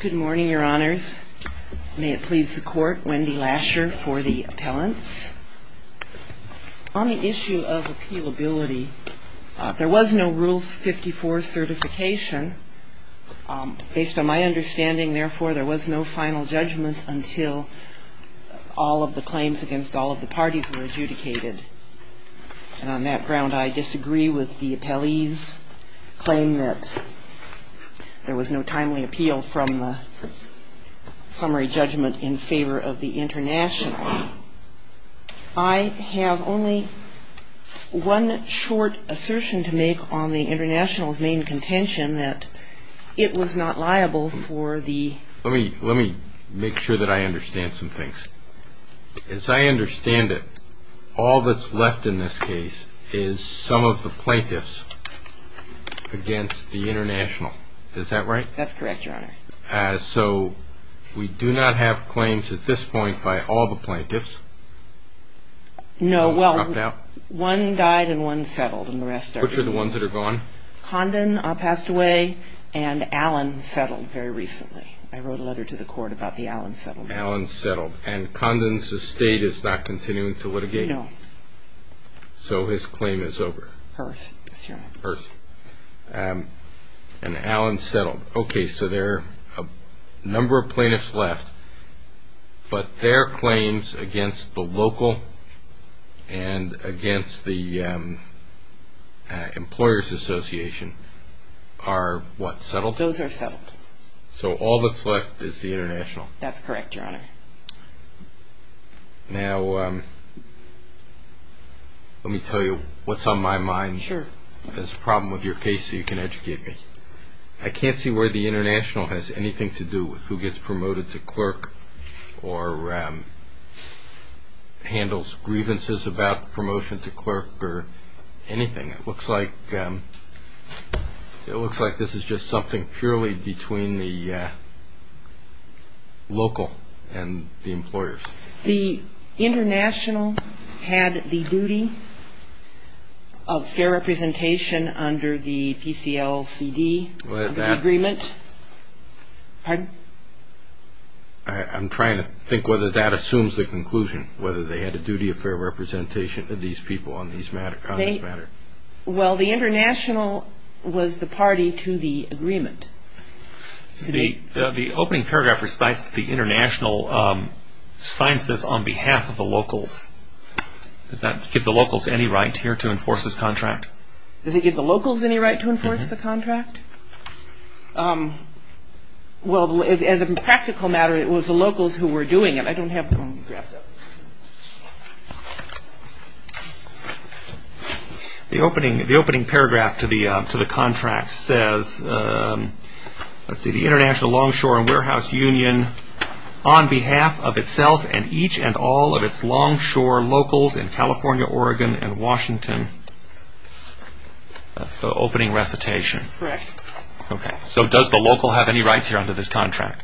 Good morning, Your Honors. May it please the Court, Wendy Lasher for the appellants. On the issue of appealability, there was no Rules 54 certification. Based on my understanding, therefore, there was no final judgment until all of the claims against all of the parties were adjudicated. And on that ground, I disagree with the appellee's claim that there was no timely appeal from the summary judgment in favor of the International. I have only one short assertion to make on the International's main contention that it was not liable for the Let me make sure that I understand some things. As I understand it, all that's correct, Your Honor. So we do not have claims at this point by all the plaintiffs? No. Well, one died and one settled. Which are the ones that are gone? Condon passed away, and Allen settled very recently. I wrote a letter to the Court about the Allen settlement. And Condon's estate is not continuing to litigate? No. So his claim is over? Hers, Your Honor. Hers. And Allen settled. Okay, so there are a number of plaintiffs left, but their claims against the local and against the Employers Association are what? Settled? Those are settled. So all that's left is the International? That's correct, Your Honor. Now, let me tell you what's on my mind. Sure. There's a problem with your case, so you can educate me. I can't see where the International has anything to do with who gets promoted to clerk or handles grievances about promotion to clerk or anything. It looks like this is just something purely between the local and the employers. The International had the duty to promote the employees, and of fair representation under the PCLCD agreement. Pardon? I'm trying to think whether that assumes the conclusion, whether they had a duty of fair representation of these people on this matter. Well, the International was the party to the agreement. The opening paragraph recites that the International signs this on behalf of the locals. Does that give the locals any right here to enforce this contract? Does it give the locals any right to enforce the contract? Well, as a practical matter, it was the locals who were doing it. I don't have the paragraph. The opening paragraph to the contract says, let's see, the International Longshore and Warehouse Union, on behalf of itself and each and all of its longshore locals in California, Oregon, and Washington. That's the opening recitation. Correct. Okay. So does the local have any rights here under this contract?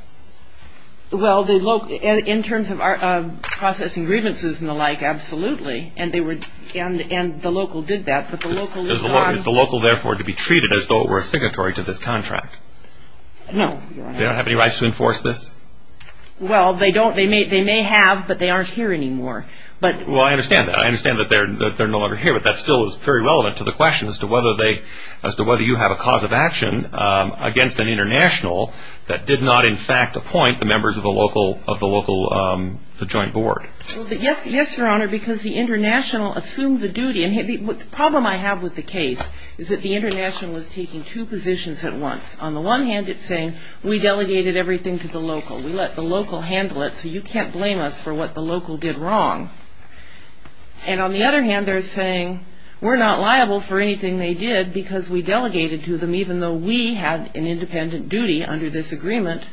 Well, in terms of processing grievances and the like, absolutely. And the local did that. Is the local therefore to be treated as though it were a signatory to this contract? No. They don't have any rights to enforce this? Well, they may have, but they aren't here anymore. Well, I understand that they're no longer here, but that still is very relevant to the question as to whether you have a cause of action against an International that did not, in fact, appoint the members of the local joint board. Well, yes, Your Honor, because the International assumed the duty. The problem I have with the case is that the International is taking two positions at once. On the one hand, it's saying, we delegated everything to the local. We let the local handle it, so you can't blame us for what the local did wrong. And on the other hand, they're saying, we're not liable for anything they did because we delegated to them, even though we had an independent duty under this agreement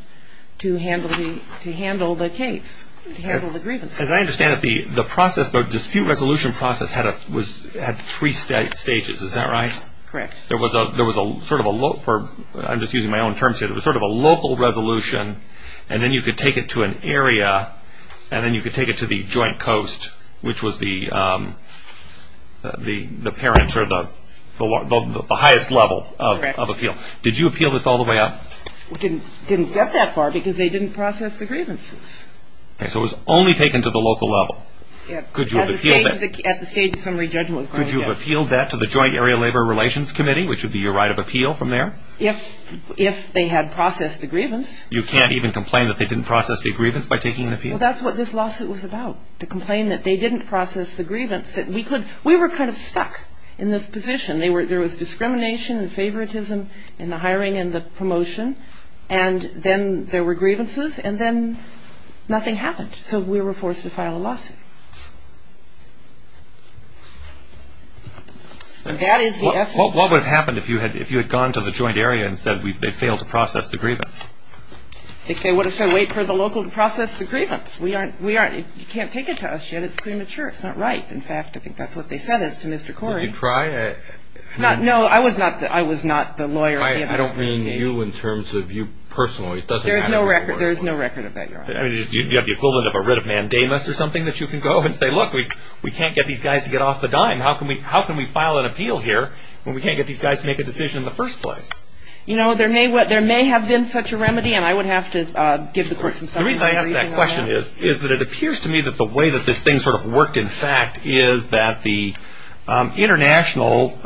to handle the case, to handle the grievance. As I understand it, the process, the dispute resolution process had three stages. Is that right? Correct. There was a sort of a, I'm just using my own terms here, there was sort of a local resolution, and then you could take it to an area, and then you could take it to the joint coast, which was the parent or the highest level of appeal. Did you appeal this all the way up? We didn't get that far, because they didn't process the grievances. Okay, so it was only taken to the local level. Could you have appealed that? At the stage of summary judgment. Could you have appealed that to the Joint Area Labor Relations Committee, which would be your right of appeal from there? If they had processed the grievance. You can't even complain that they didn't process the grievance by taking an appeal? Well, that's what this lawsuit was about, to complain that they didn't process the grievance. We were kind of stuck in this position. There was discrimination and favoritism in the hiring and the promotion, and then there were grievances, and then nothing happened. So we were forced to file a lawsuit. What would have happened if you had gone to the joint area and said they failed to process the grievance? They would have said, wait for the local to process the grievance. You can't take it to us yet, it's premature, it's not right. In fact, I think that's what they said to Mr. Corey. Did you try? No, I was not the lawyer. I don't mean you in terms of you personally. There's no record of that, Do you have the equivalent of a writ of mandamus or something that you can go and say, look, we can't get these guys to get off the dime. How can we file an appeal here when we can't get these guys to make a decision in the first place? You know, there may have been such a remedy, and I would have to give the court some support. The reason I ask that question is that it appears to me that the way that this thing sort of worked, in fact, is that the international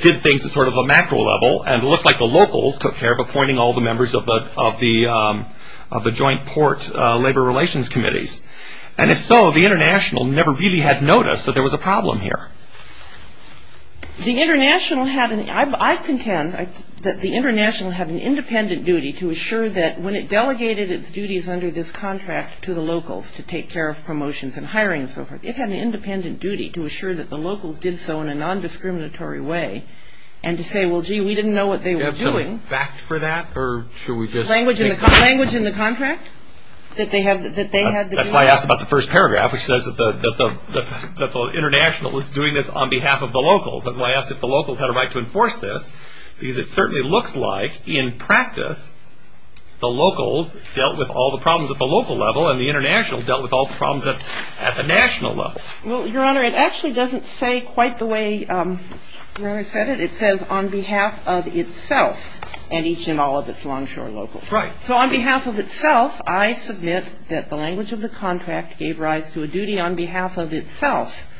did things at sort of a macro level, and it looks like the locals took care of appointing all the members of the joint port labor relations committees. And if so, the international never really had noticed that there was a problem here. The international had an, I contend that the international had an independent duty to assure that when it delegated its duties under this contract to the locals to take care of promotions and hiring and so forth, it had an independent duty to assure that the locals did so in a non-discriminatory way, and to say, well, gee, we didn't know what they were doing. Do you have some fact for that, or should we just? Language in the contract? That they had to do that? That's why I asked about the first paragraph, which says that the international was doing this on behalf of the locals. That's why I asked if the locals had a right to enforce this, because it certainly looks like, in practice, the locals dealt with all the problems at the local level, and the international dealt with all the problems at the national level. Well, Your Honor, it actually doesn't say quite the way Rory said it. It says, on behalf of itself, and each and all of its longshore locals. Right. So on behalf of itself, I submit that the language of the contract gave rise to a duty on behalf of itself,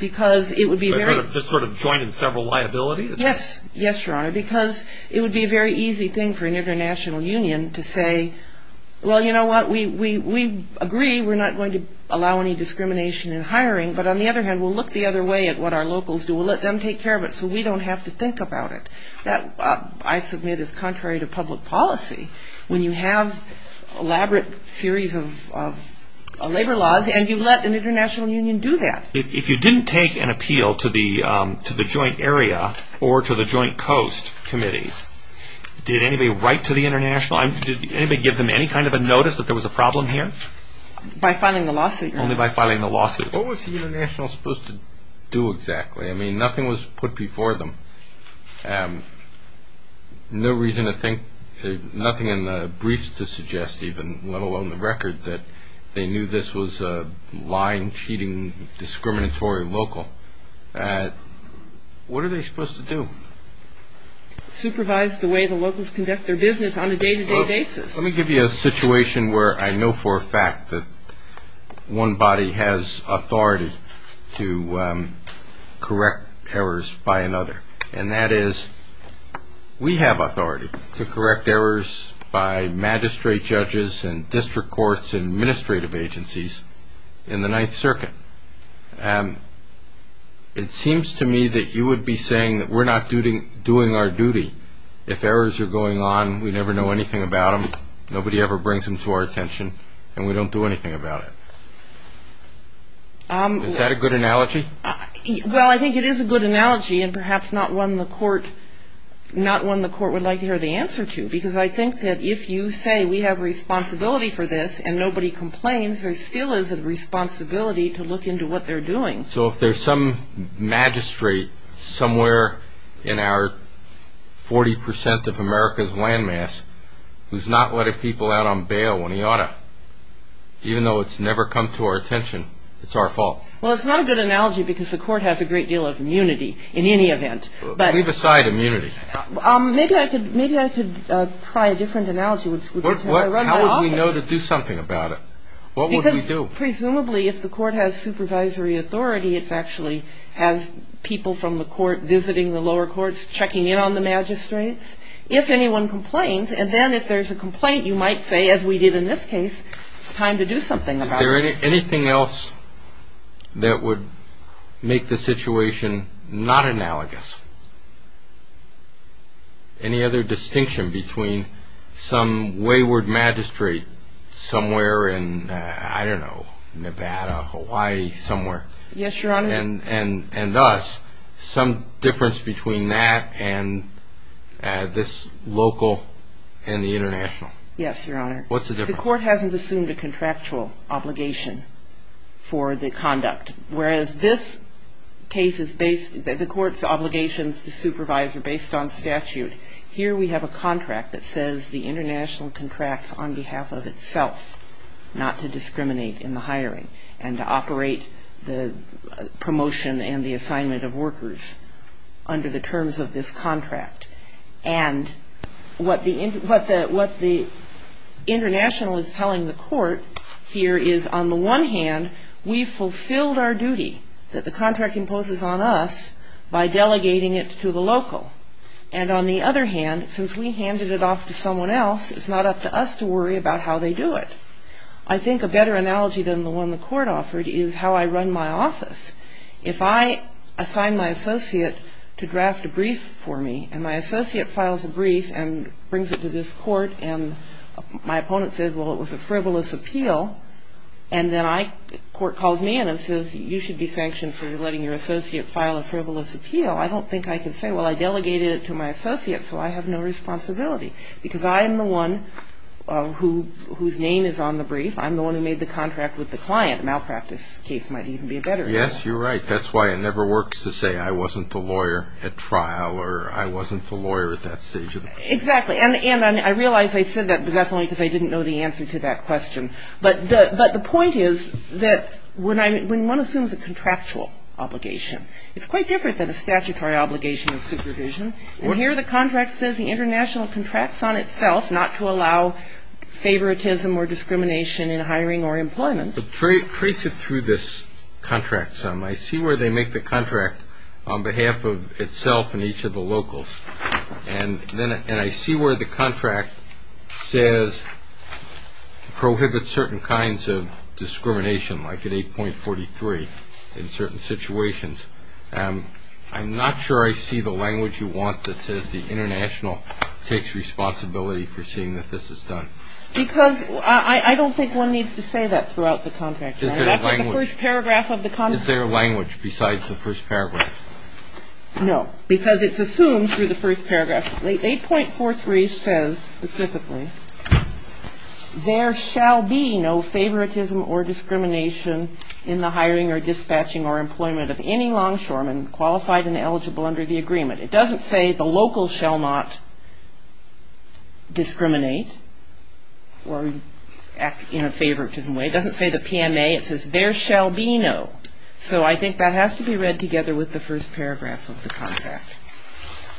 because it would be very Just sort of joining several liabilities? Yes. Yes, Your Honor, because it would be a very easy thing for an international union to say, well, you know what, we agree we're not going to allow any discrimination in hiring, but on the other hand, we'll look the other way at what our locals do. We'll let them take care of it so we don't have to think about it. That, I submit, is contrary to public policy, when you have elaborate series of labor laws, and you let an international union do that. If you didn't take an appeal to the joint area or to the joint coast committees, did anybody give them any kind of a notice that there was a problem here? By filing the lawsuit, Your Honor. Only by filing the lawsuit. What was the international supposed to do exactly? I mean, nothing was put before them. No reason to think, nothing in the briefs to suggest even, let alone the record, that they knew this was a lying, cheating, discriminatory local. What are they supposed to do? Supervise the way the locals conduct their business on a day-to-day basis. Let me give you a situation where I know for a fact that one body has authority to correct errors by another. And that is, we have authority to correct errors by magistrate judges and district courts and administrative agencies in the Ninth Circuit. It seems to me that you would be saying that we're not doing our duty. If errors are going on, we never know anything about them, nobody ever brings them to our attention, and we don't do anything about it. Is that a good analogy? Well, I think it is a good analogy, and perhaps not one the court would like to hear the answer to. Because I think that if you say, we have responsibility for this, and nobody complains, there still is a responsibility to look into what they're doing. So if there's some magistrate somewhere in our 40% of America's land mass who's not letting people out on bail when he ought to, even though it's never come to our attention, it's our fault. Well, it's not a good analogy because the court has a great deal of immunity in any event. Leave aside immunity. Maybe I could try a different analogy. How would we know to do something about it? What would we do? Presumably, if the court has supervisory authority, it actually has people from the court visiting the lower courts, checking in on the magistrates. If anyone complains, and then if there's a complaint, you might say, as we did in this case, it's time to do something about it. Anything else that would make the situation not analogous? Any other distinction between some wayward magistrate somewhere in, I don't know, Nevada, Hawaii, somewhere, and us, some difference between that and this local and the international? Yes, Your Honor. What's the difference? The court hasn't assumed a contractual obligation for the conduct, whereas this case is based the court's obligations to supervise are based on statute. Here we have a contract that says the international contracts on behalf of itself not to discriminate in the hiring and to operate the promotion and the assignment of workers under the terms of this contract. And what the international is telling the court here is, on the one hand, we fulfilled our duty that the contract imposes on us by delegating it to the local. And on the other hand, since we handed it off to someone else, it's not up to us to worry about how they do it. I think a better analogy than the one the court offered is how I run my office. If I assign my associate to draft a brief for me, and my associate files a brief and brings it to this court, and my opponent says, well, it was a frivolous appeal, and then my court calls me in and says, you should be sanctioned for letting your associate file a frivolous appeal, I don't think I can say, well, I delegated it to my associate, so I have no responsibility. Because I am the one whose name is on the brief. I'm the one who made the contract with the client. A malpractice case might even be a better example. Yes, you're right. That's why it never works to say I wasn't the lawyer at trial or I wasn't the lawyer at that stage of the procedure. Exactly. And I realize I said that, but that's only because I didn't know the answer to that point is that when one assumes a contractual obligation, it's quite different than a statutory obligation of supervision. And here the contract says the international contracts on itself not to allow favoritism or discrimination in hiring or employment. Trace it through this contract some. I see where they make the contract on behalf of itself and each of the locals. And I see where the contract says prohibit certain kinds of discrimination, like at 8.43 in certain situations. I'm not sure I see the language you want that says the international takes responsibility for seeing that this is done. Because I don't think one needs to say that throughout the contract. Is there a language? That's what the first paragraph of the contract says. Is there a language besides the first paragraph? No. Because it's assumed through the first paragraph. 8.43 says specifically there shall be no favoritism or discrimination in the hiring or dispatching or employment of any longshoreman qualified and eligible under the agreement. It doesn't say the local shall not discriminate or act in a favoritism way. It doesn't say the PMA. It says there shall be no. So I think that has to be read together with the first paragraph of the contract.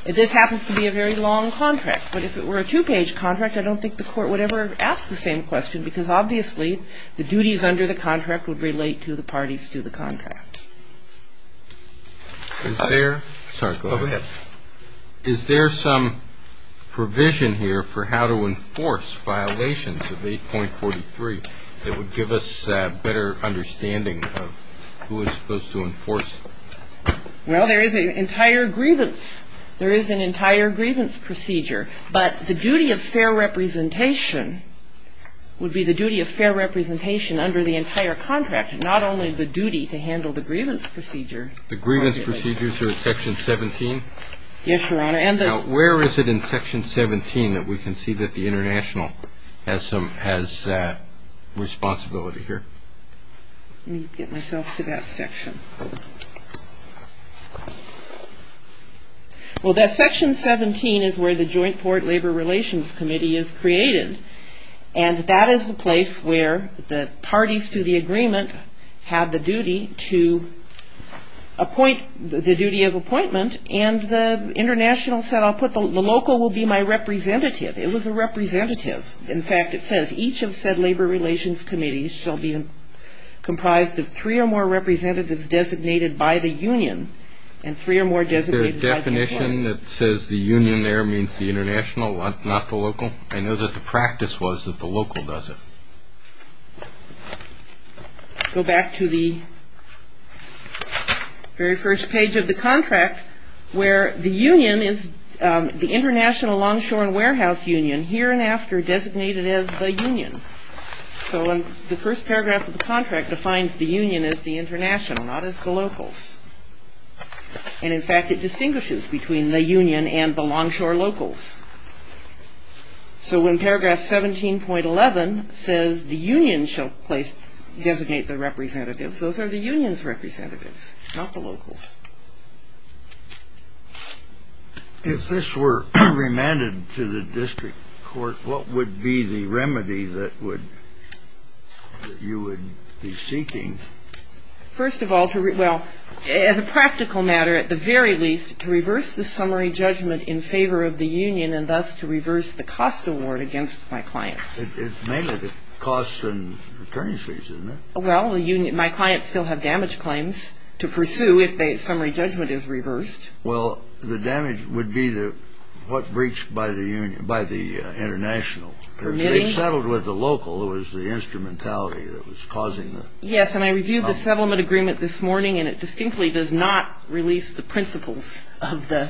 This happens to be a very long contract. But if it were a two-page contract, I don't think the court would ever ask the same question, because obviously the duties under the contract would relate to the parties to the contract. Is there some provision here for how to enforce violations of 8.43 that would give us a better understanding of who is supposed to enforce them? Well, there is an entire grievance. There is an entire grievance procedure. But the duty of fair representation would be the duty of fair representation under the entire contract, not only the duty to handle the grievance procedure. The grievance procedures are in Section 17? Yes, Your Honor. And the Now, where is it in Section 17 that we can see that the International has some, has responsibility here? Let me get myself to that section. Well, that Section 17 is where the Joint Port Labor Relations Committee is created. And that is the place where the parties to the agreement have the duty to appoint, the duty of appointment. And the International said, I'll put the local will be my representative. It was a representative. In fact, it says, each of said Labor Relations Committees shall be comprised of three or more representatives designated by the Union and three or more designated by the Employers. Is there a definition that says the Union there means the International, not the local? I know that the practice was that the local does it. Go back to the very first page of the contract, where the Union is the International Long Shore and Warehouse Union, here and after designated as the Union. So the first paragraph of the contract defines the Union as the International, not as the locals. And in fact, it distinguishes between the Union and the Long Shore locals. So when paragraph 17.11 says the Union shall place, designate the representatives, those are the Union's representatives, not the locals. If this were remanded to the District Court, what would be the remedy that would, that you would be seeking? First of all, to, well, as a practical matter, at the very least, to reverse the summary judgment in favor of the Union and thus to reverse the cost award against my clients. It's mainly the cost and returning fees, isn't it? Well, the Union, my clients still have damage claims to pursue if the summary judgment is reversed. Well, the damage would be the, what breached by the Union, by the International. Permitting. If they settled with the local, it was the instrumentality that was causing the. Yes, and I reviewed the settlement agreement this morning, and it distinctly does not release the principles of the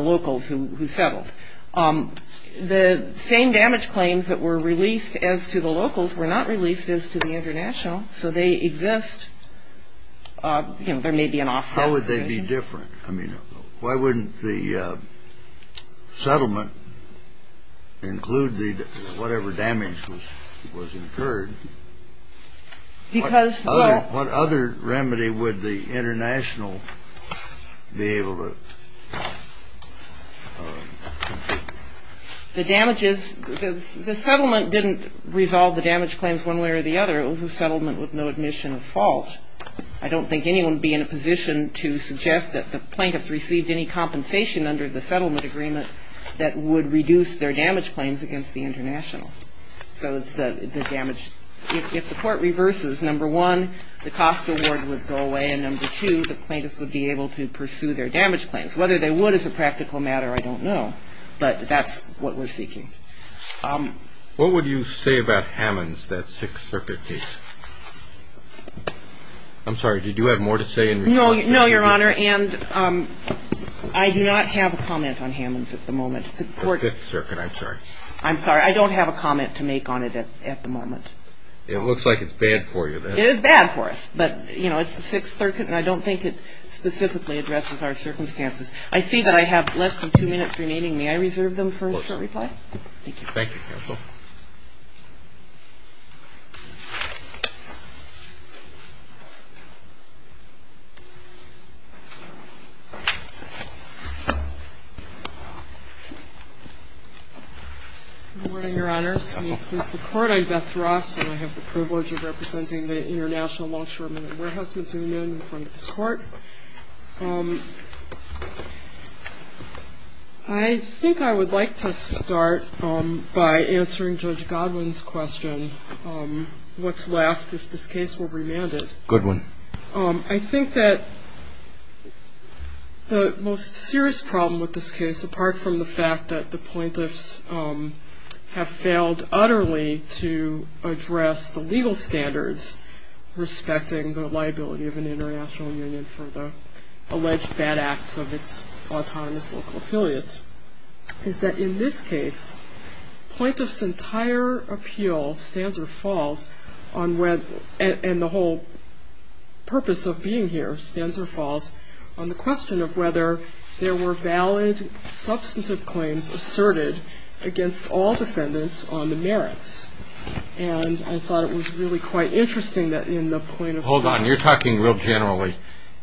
locals who settled. The same damage claims that were released as to the locals were not released as to the International. So they exist, you know, there may be an offset. How would they be different? I mean, why wouldn't the settlement include the, whatever damage was incurred? Because, well. What other remedy would the International be able to. The damages, the settlement didn't resolve the damage claims one way or the other. It was a settlement with no admission of fault. I don't think anyone would be in a position to suggest that the plaintiffs received any compensation under the settlement agreement that would reduce their damage claims against the International. So it's the damage. If the Court reverses, number one, the cost award would go away, and number two, the plaintiffs would be able to pursue their damage claims. Whether they would as a practical matter, I don't know. But that's what we're seeking. What would you say about Hammonds, that Sixth Circuit case? I'm sorry, did you have more to say in response to that? No, Your Honor, and I do not have a comment on Hammonds at the moment. The Fifth Circuit, I'm sorry. I'm sorry. I don't have a comment to make on it at the moment. It looks like it's bad for you. It is bad for us. But, you know, it's the Sixth Circuit, and I don't think it specifically addresses our circumstances. I see that I have less than two minutes remaining. May I reserve them for a short reply? Thank you, counsel. Good morning, Your Honors. I'm Beth Ross, and I have the privilege of representing the International Longshoremen and Warehousemen's Union in front of this Court. I think I would like to start by answering Judge Godwin's question, what's left if this case were remanded? Goodwin. I think that the most serious problem with this case, apart from the fact that the plaintiffs have failed utterly to address the legal standards respecting the liability of an international union for the alleged bad acts of its autonomous local affiliates, is that in this case, plaintiffs' entire appeal, stanza or falls, and the whole purpose of being here, stanza or falls, on the question of whether there were valid substantive claims asserted against all defendants on the merits. And I thought it was really quite interesting that in the plaintiffs' case Hold on. You're talking real generally,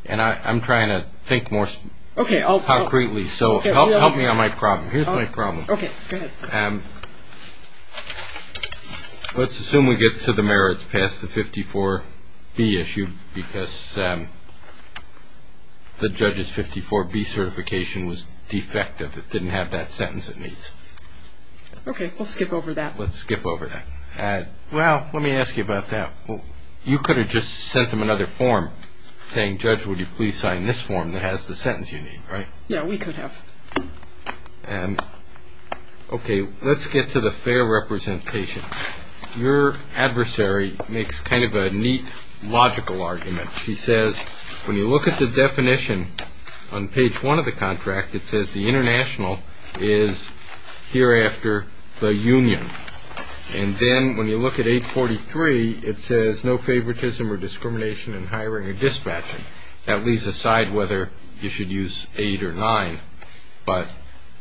and I'm trying to think more concretely, so help me on my problem. Here's my problem. Okay. Go ahead. Let's assume we get to the merits past the 54B issue, because the judge's 54B certification was defective. It didn't have that sentence it needs. Okay. We'll skip over that. Let's skip over that. Well, let me ask you about that. You could have just sent them another form saying, Judge, would you please sign this form that has the sentence you need, right? Yeah, we could have. Okay. Let's get to the fair representation. Your adversary makes kind of a neat logical argument. He says, when you look at the definition on page one of the contract, it says the international is hereafter the union. And then when you look at 843, it says no favoritism or discrimination in hiring or dispatching. That leaves aside whether you should use 8 or 9, but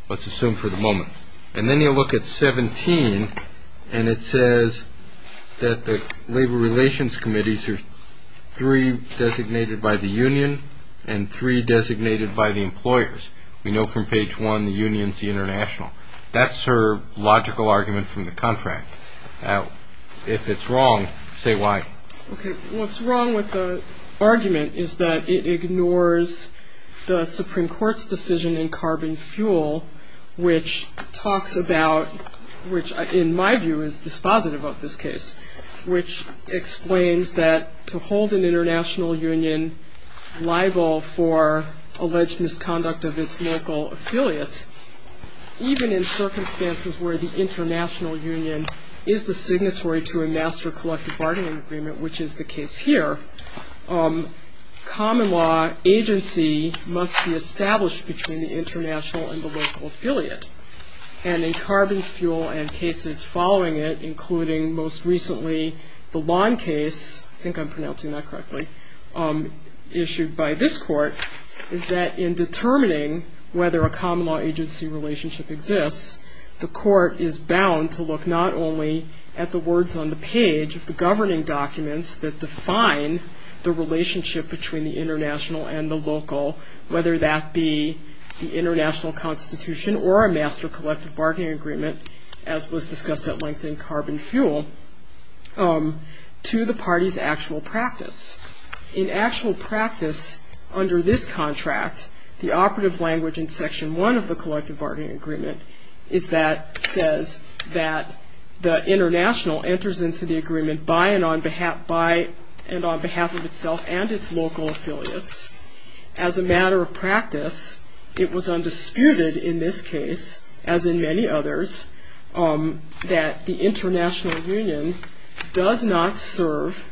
let's assume for the moment. And then you look at 17, and it says that the labor relations committees are three designated by the union, and three designated by the employers. We know from page one the union's the international. That's her logical argument from the contract. If it's wrong, say why. Okay. What's wrong with the argument is that it ignores the Supreme Court's decision in carbon fuel, which talks about, which in my view is dispositive of this case, which explains that to hold an international union liable for alleged misconduct of its local affiliates, even in circumstances where the international union is the signatory to a master collective bargaining agreement, which is the case here, common law agency must be established between the international and the local affiliate. And in carbon fuel and cases following it, including most recently the lawn case, I think I'm pronouncing that correctly, issued by this court, is that in determining whether a common law agency relationship exists, the governing documents that define the relationship between the international and the local, whether that be the international constitution or a master collective bargaining agreement, as was discussed at length in carbon fuel, to the party's actual practice. In actual practice under this contract, the operative language in section one of the collective bargaining agreement is that, says that the international enters into the agreement by and on behalf of itself and its local affiliates. As a matter of practice, it was undisputed in this case, as in many others, that the international union does not serve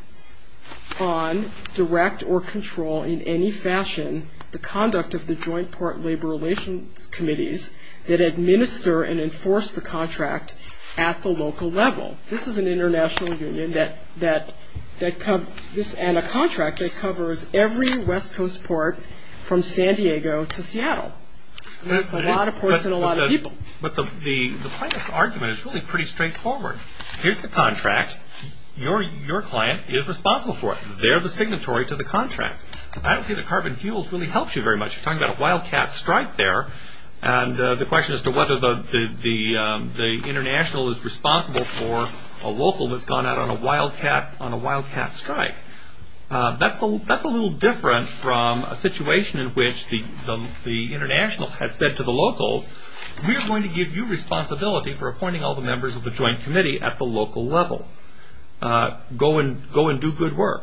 on direct or control in any fashion the conduct of the joint port labor relations committees that administer and enforce the contract at the local level. This is an international union that covers, and a contract that covers, every west coast port from San Diego to Seattle. That's a lot of ports and a lot of people. But the plaintiff's argument is really pretty straightforward. Here's the contract. Your client is responsible for it. They're the signatory to the contract. I don't see that carbon fuels really helps you very much. You're talking about a wildcat strike there, and the question as to whether the international is responsible for a local that's gone out on a wildcat strike. That's a little different from a situation in which the international has said to the locals, we're going to give you responsibility for appointing all the people. Go and do good work.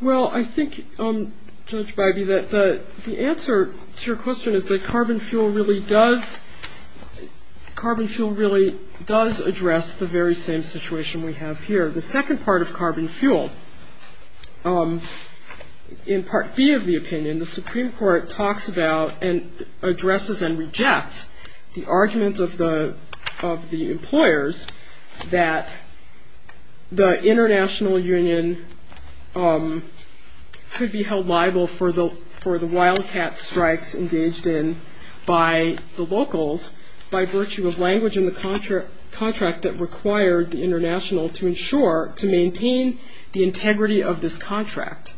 Well, I think, Judge Bybee, that the answer to your question is that carbon fuel really does address the very same situation we have here. The second part of carbon fuel, in Part B of the opinion, the Supreme Court talks about and addresses and rejects the argument of the employers that the international union could be held liable for the wildcat strikes engaged in by the locals by virtue of language in the contract that required the international to ensure, to maintain the integrity of this contract.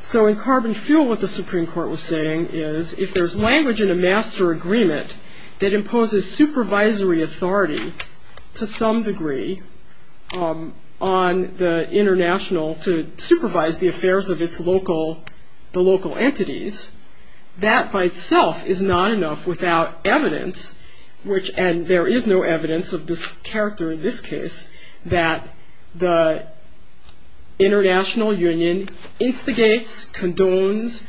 So in carbon fuel, what the Supreme Court was saying is, if there's language in a master agreement that imposes supervisory authority to some degree on the international to supervise the affairs of the local entities, that by itself is not enough without evidence, and there is no evidence of this character in this case, that the international union instigates, condones,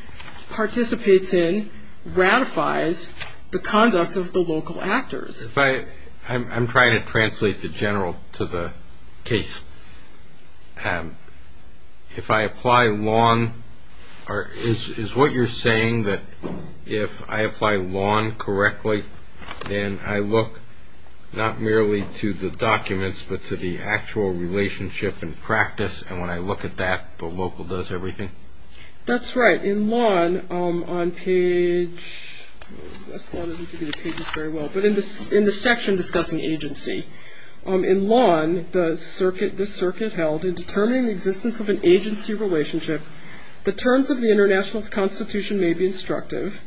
participates in, ratifies the conduct of the local actors. I'm trying to translate the general to the case. If I apply lawn, is what you're saying that if I apply lawn correctly, then I look not merely to the documents, but to the actual relationship and practice, and when I look at that, the local does everything? That's right. In lawn, on page, this lawn doesn't give you the pages very well, but in the section discussing agency, in lawn, the circuit held, in determining the existence of an agency relationship, the terms of the international's constitution may be instructive,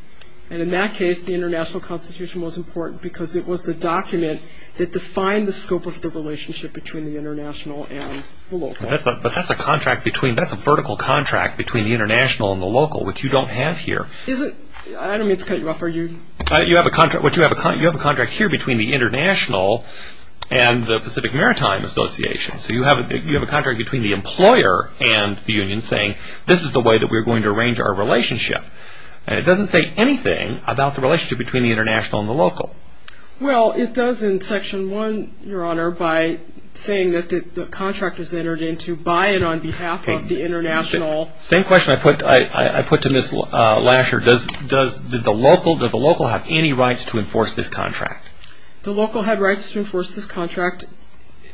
and in that case, the international constitution was important because it was the document that defined the scope of the relationship between the international and the local. But that's a vertical contract between the international and the local, which you don't have here. I don't mean to cut you off, are you? You have a contract here between the international and the Pacific Maritime Association, so you have a contract between the employer and the union saying, this is the way that we're going to arrange our relationship, and it doesn't say anything about the relationship between the international and the local. Well, it does in section one, your honor, by saying that the contract is entered into by and on behalf of the international. Same question I put to Ms. Lasher, did the local have any rights to enforce this contract? The local had rights to enforce this contract.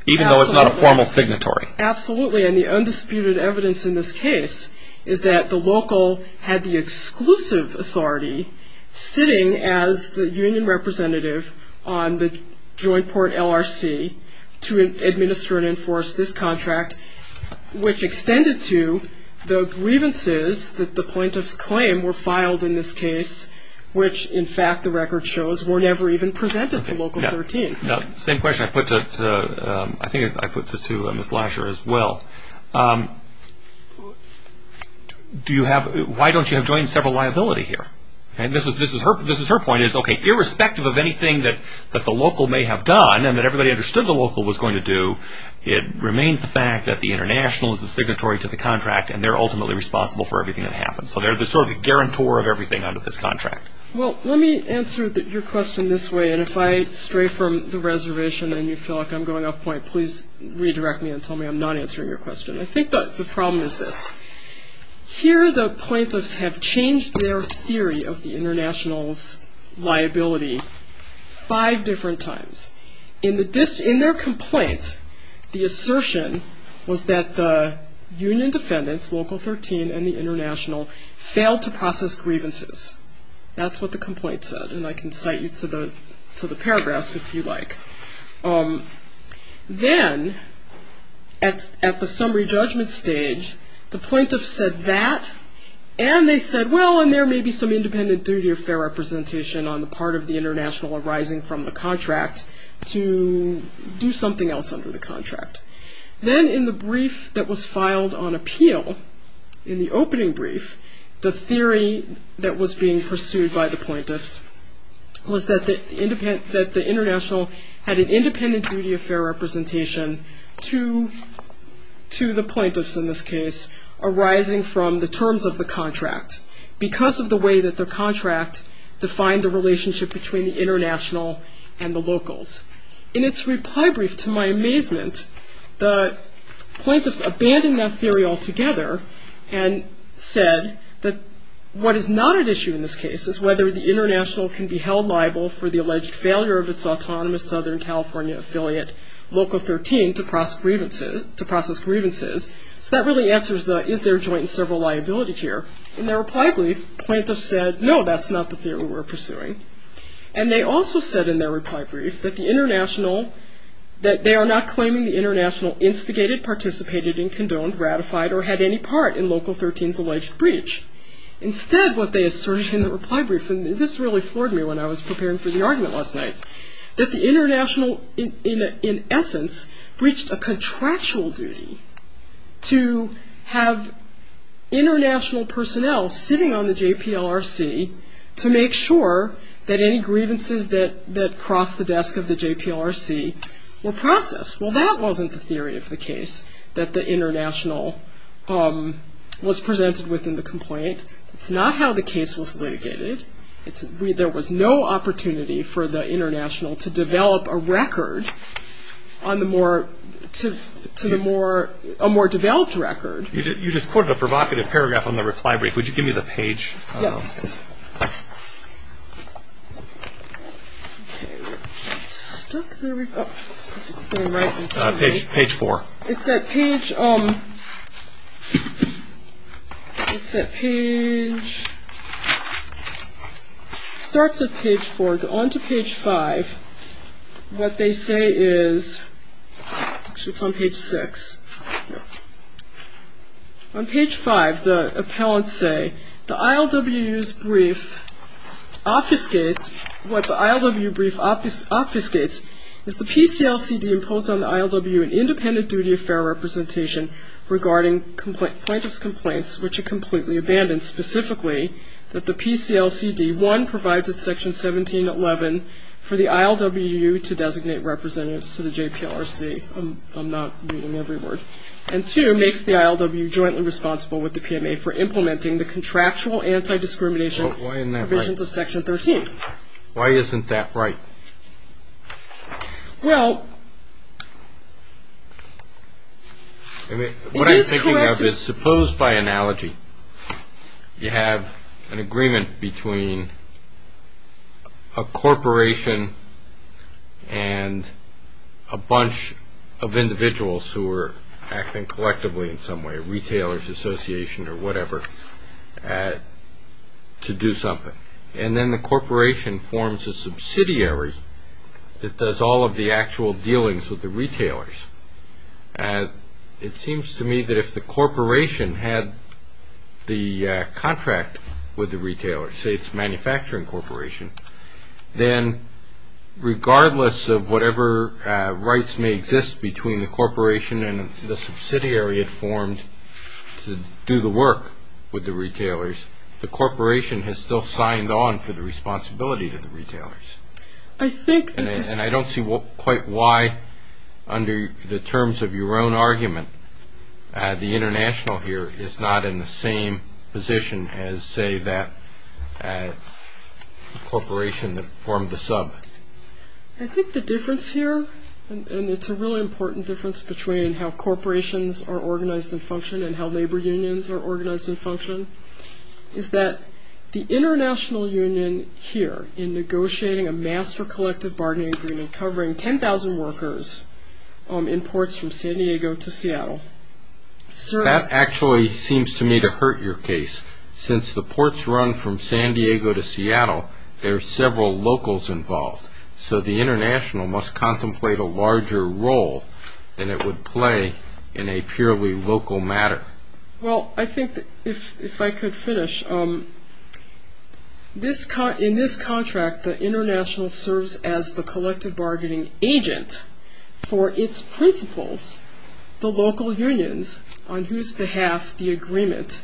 Even though it's not a formal signatory? Absolutely, and the undisputed evidence in this case is that the local had the exclusive authority sitting as the union representative on the joint port LRC to administer and enforce this contract, which extended to the grievances that the plaintiff's claim were filed in this case, which in fact the record shows were never even presented to Local 13. Same question I put to, I think I put this to Ms. Lasher as well. Do you have, why don't you have joint several liability here? This is her point, okay, irrespective of anything that the local may have done and that everybody understood the local was going to do, it remains the fact that the international is the signatory to the contract and they're ultimately responsible for everything that happens. So they're the sort of the guarantor of everything under this contract. Well, let me answer your question this way, and if I stray from the reservation and you feel like I'm going off point, please redirect me and tell me I'm not answering your question. I think the problem is this, here the plaintiffs have changed their theory of the international's liability five different times. In their complaint, the assertion was that the union defendants, Local 13 and the international failed to process grievances. That's what the complaint said, and I can cite you to the paragraphs if you'd like. Then, at the summary judgment stage, the plaintiffs said that, and they said, well, and there may be some independent duty of fair representation on the part of the international arising from the contract to do something else under the contract. Then, in the brief that was filed on appeal, in the opening brief, the theory that was being pursued by the plaintiffs was that the international had an independent duty of fair representation to the plaintiffs, in this case, arising from the terms of the contract because of the way that the contract defined the relationship between the international and the locals. In its reply brief, to my amazement, the plaintiffs abandoned that theory altogether and said that what is not at issue in this case is whether the international can be held liable for the alleged failure of its autonomous Southern California affiliate, Local 13, to process grievances, so that really answers the is there joint and several liability here. In their reply brief, plaintiffs said, no, that's not the theory we're pursuing, and they also said in their reply brief that the international, that they are not claiming the international instigated, participated in, condoned, ratified, or had any part in Local 13's alleged breach. Instead, what they asserted in the reply brief, and this really floored me when I was preparing for the argument last night, that the international, in essence, breached a contractual duty to have international personnel sitting on the JPLRC to make sure that any grievances that crossed the desk of the JPLRC were processed. Well, that wasn't the theory of the case that the international was presented with in the complaint. It's not how the case was litigated. There was no opportunity for the international to develop a record on the more, to the more, a more developed record. You just quoted a provocative paragraph on the reply brief. Would you give me the page? Yes. Okay, we're stuck. There we go. Page four. It's at page, it's at page, it starts at page four, go on to page five. What they say is, actually it's on page six, on page five the appellants say, the ILW's brief obfuscates, what the ILW brief obfuscates is the PCLCD imposed on the ILW an independent duty of fair representation regarding plaintiff's complaints, which are completely abandoned, specifically that the PCLCD, one, provides at section 1711 for the ILW to designate representatives to the JPLRC, I'm not reading every word, and two, makes the ILW jointly responsible with the PMA for implementing the contractual anti-discrimination provisions of section 13. Why isn't that right? Well, it is correct. What I'm thinking of is, suppose by analogy, you have an agreement between a corporation and a bunch of individuals who are acting collectively in some way, retailers association or whatever, to do something, and then the corporation forms a subsidiary that does all of the actual dealings with the retailers, it seems to me that if the corporation had the contract with the retailers, say it's a manufacturing corporation, then regardless of whatever rights may exist between the corporation and the subsidiary it formed to do the work with the retailers, the corporation has still signed on for the responsibility to the retailers. I don't see quite why, under the terms of your own argument, the international here is not in the same position as, say, that corporation that formed the sub. I think the difference here, and it's a really important difference between how corporations are organized and function and how labor unions are organized and function, is that the international union here, in negotiating a master collective bargaining agreement covering 10,000 workers in ports from San Diego to Seattle, serves... That actually seems to me to hurt your case, since the ports run from San Diego to Seattle, there are several locals involved, so the international must contemplate a larger role than it would play in a purely local matter. Well, I think if I could finish, in this contract the international serves as the collective bargaining agent for its principals, the local unions on whose behalf the agreement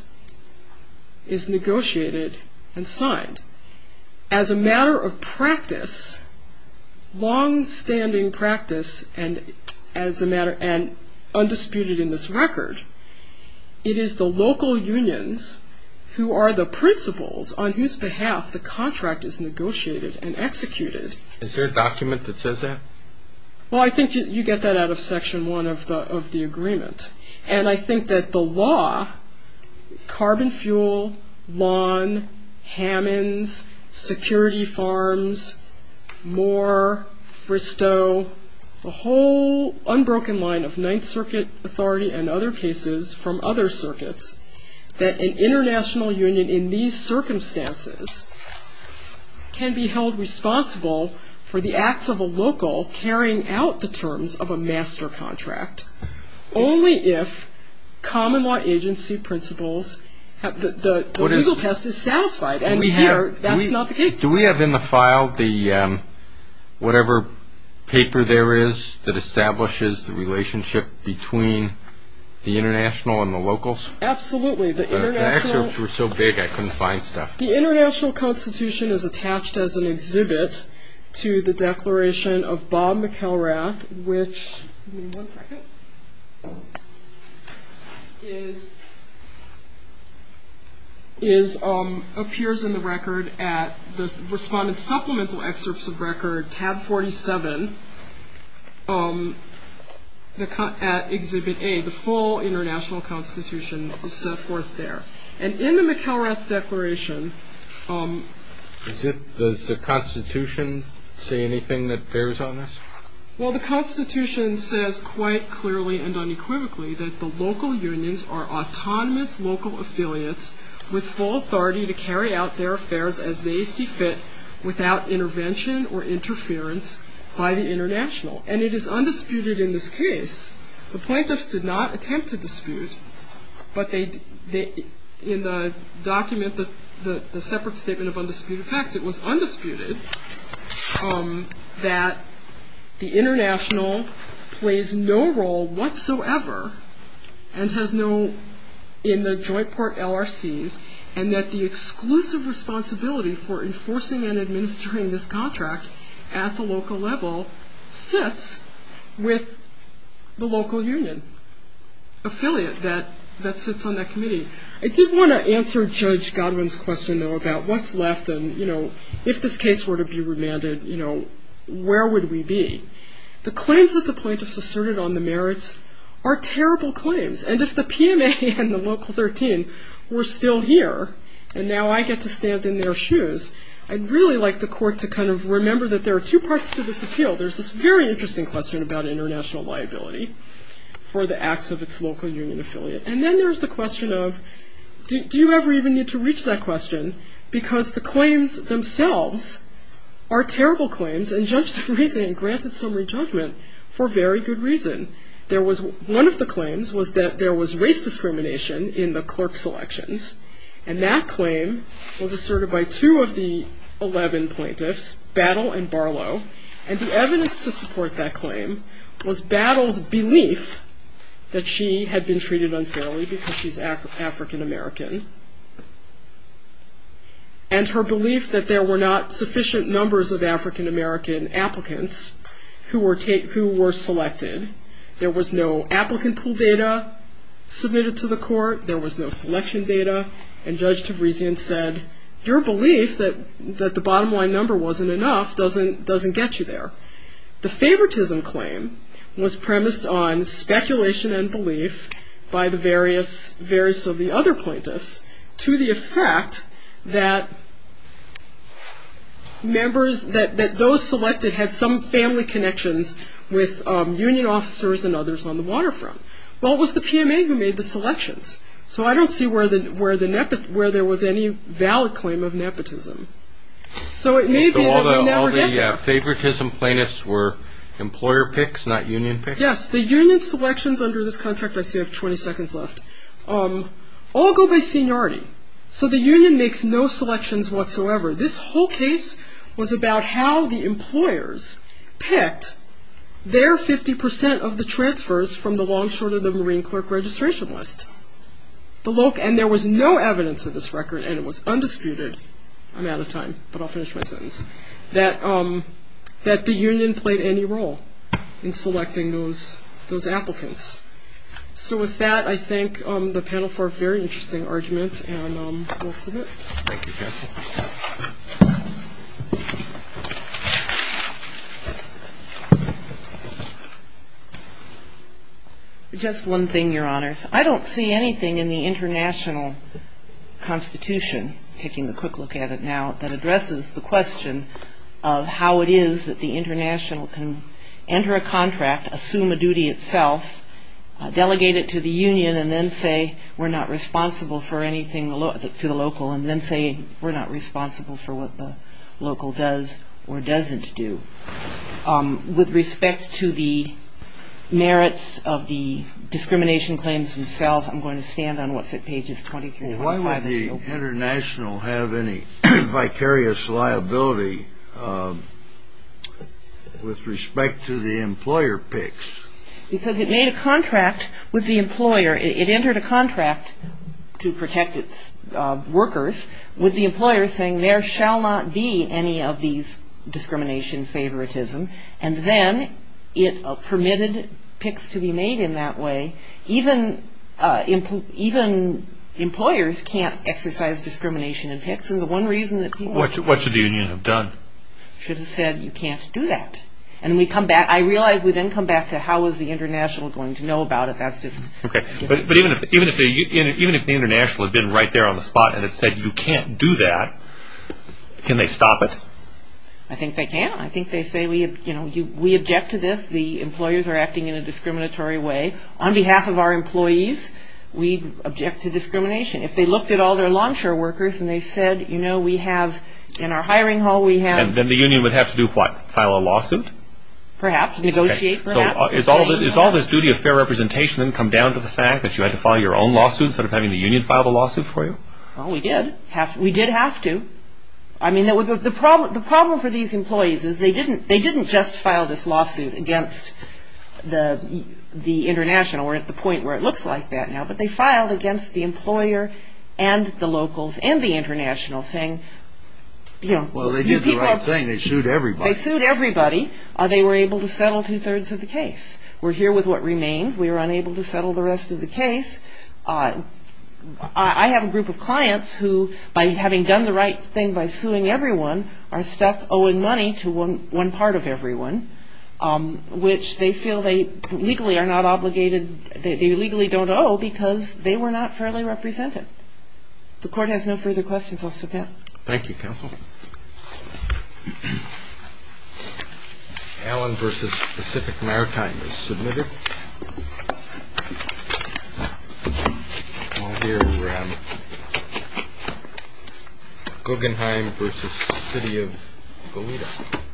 is negotiated and signed. As a matter of practice, long-standing practice, and undisputed in this record, it is the local unions who are the principals on whose behalf the contract is negotiated and executed... Is there a document that says that? Well, I think you get that out of Section 1 of the agreement, and I think that the law, carbon fuel, lawn, Hammonds, security farms, Moore, Fristow, the whole unbroken line of Ninth Circuit authority and other cases from other circuits, that an international union in these circumstances can be held responsible for the acts of a local carrying out the terms of a master contract, only if common law agency principals... The legal test is satisfied, and here that's not the case. Do we have in the file the, whatever paper there is that establishes the relationship between the international and the locals? Absolutely, the international... The international constitution is attached as an exhibit to the declaration of Bob McElrath, which, give me one second, is, appears in the record at, the respondent's supplemental excerpts of record, tab 47, at exhibit A, the full international constitution is set forth there, and in the McElrath declaration... Does the constitution say anything that bears on this? Well, the constitution says quite clearly and unequivocally that the local unions are autonomous local affiliates with full authority to carry out their affairs as they see fit without intervention or interference by the international, and it is undisputed in this document, the separate statement of undisputed facts, it was undisputed that the international plays no role whatsoever and has no, in the joint part LRCs, and that the exclusive responsibility for enforcing and administering this contract at the local level sits with the local union affiliate that sits on that committee. I did want to answer Judge Godwin's question, though, about what's left and, you know, if this case were to be remanded, you know, where would we be? The claims that the plaintiffs asserted on the merits are terrible claims, and if the PMA and the local 13 were still here, and now I get to stand in their shoes, I'd really like the court to kind of remember that there are two parts to this appeal. There's this very interesting question about international liability for the acts of its local union affiliate, and then there's the question of, do you ever even need to reach that question, because the claims themselves are terrible claims, and Judge DeVriesen granted some re-judgment for very good reason. There was, one of the claims was that there was race discrimination in the clerk selections, and that claim was asserted by two of the 11 plaintiffs, Battle and Barlow, and the evidence to support that claim was Battle's belief that she had been treated unfairly because she's African-American, and her belief that there were not sufficient numbers of African-American applicants who were selected. There was no applicant pool data submitted to the court, there was no selection data, and Judge DeVriesen said, your belief that the bottom line number wasn't enough doesn't get you there. The favoritism claim was premised on speculation and belief by the various of the other plaintiffs to the effect that members, that those selected had some family connections with union affiliates and union officers and others on the waterfront. Well, it was the PMA who made the selections, so I don't see where there was any valid claim of nepotism. So it may be that we never get there. So all the favoritism plaintiffs were employer picks, not union picks? Yes, the union selections under this contract, I see I have 20 seconds left, all go by seniority. So the union makes no selections whatsoever. This whole case was about how the employers picked their 50% of the transfers from the long short of the marine clerk registration list. And there was no evidence of this record, and it was undisputed, I'm out of time, but I'll finish my sentence, that the union played any role in selecting those applicants. So with that, I thank the panel for a very interesting argument, and we'll submit. Thank you, counsel. Just one thing, your honors. I don't see anything in the international constitution, taking a quick look at it now, that addresses the question of how it is that the international can enter a contract, assume a duty itself, delegate it to the union, and then say, we're not responsible for anything to the local, and then say, we're not responsible for what the local does or doesn't do. With respect to the merits of the discrimination claims themselves, I'm going to stand on what's at pages 23 and 25. Why would the international have any vicarious liability with respect to the employer picks? Because it made a contract with the employer, it entered a contract to protect its workers, with the employer saying, there shall not be any of these discrimination favoritism, and then it permitted picks to be made in that way. Even employers can't exercise discrimination in picks, and the one reason that people... What should the union have done? Should have said, you can't do that. I realize we then come back to, how is the international going to know about it? Even if the international had been right there on the spot and had said, you can't do that, can they stop it? I think they can. I think they say, we object to this, the employers are acting in a discriminatory way. On behalf of our employees, we object to discrimination. If they looked at all their lawn chair workers and they said, in our hiring hall we have... Then the union would have to do what? File a lawsuit? Perhaps. Negotiate, perhaps. Is all this duty of fair representation come down to the fact that you had to file your own lawsuit instead of having the union file the lawsuit for you? We did. We did have to. The problem for these employees is they didn't just file this lawsuit against the international. We're at the point where it looks like that now. But they filed against the employer and the locals and the international, saying... Well, they did the right thing. They sued everybody. They sued everybody. They were able to settle two-thirds of the case. We're here with what remains. We were unable to settle the rest of the case. I have a group of clients who, by having done the right thing by suing everyone, are stuck owing money to one part of everyone, which they feel they legally are not obligated, they legally don't owe because they were not fairly represented. If the court has no further questions, I'll submit. Thank you, counsel. Allen v. Pacific Maritime is submitted. I'll hear Guggenheim v. City of Goleta.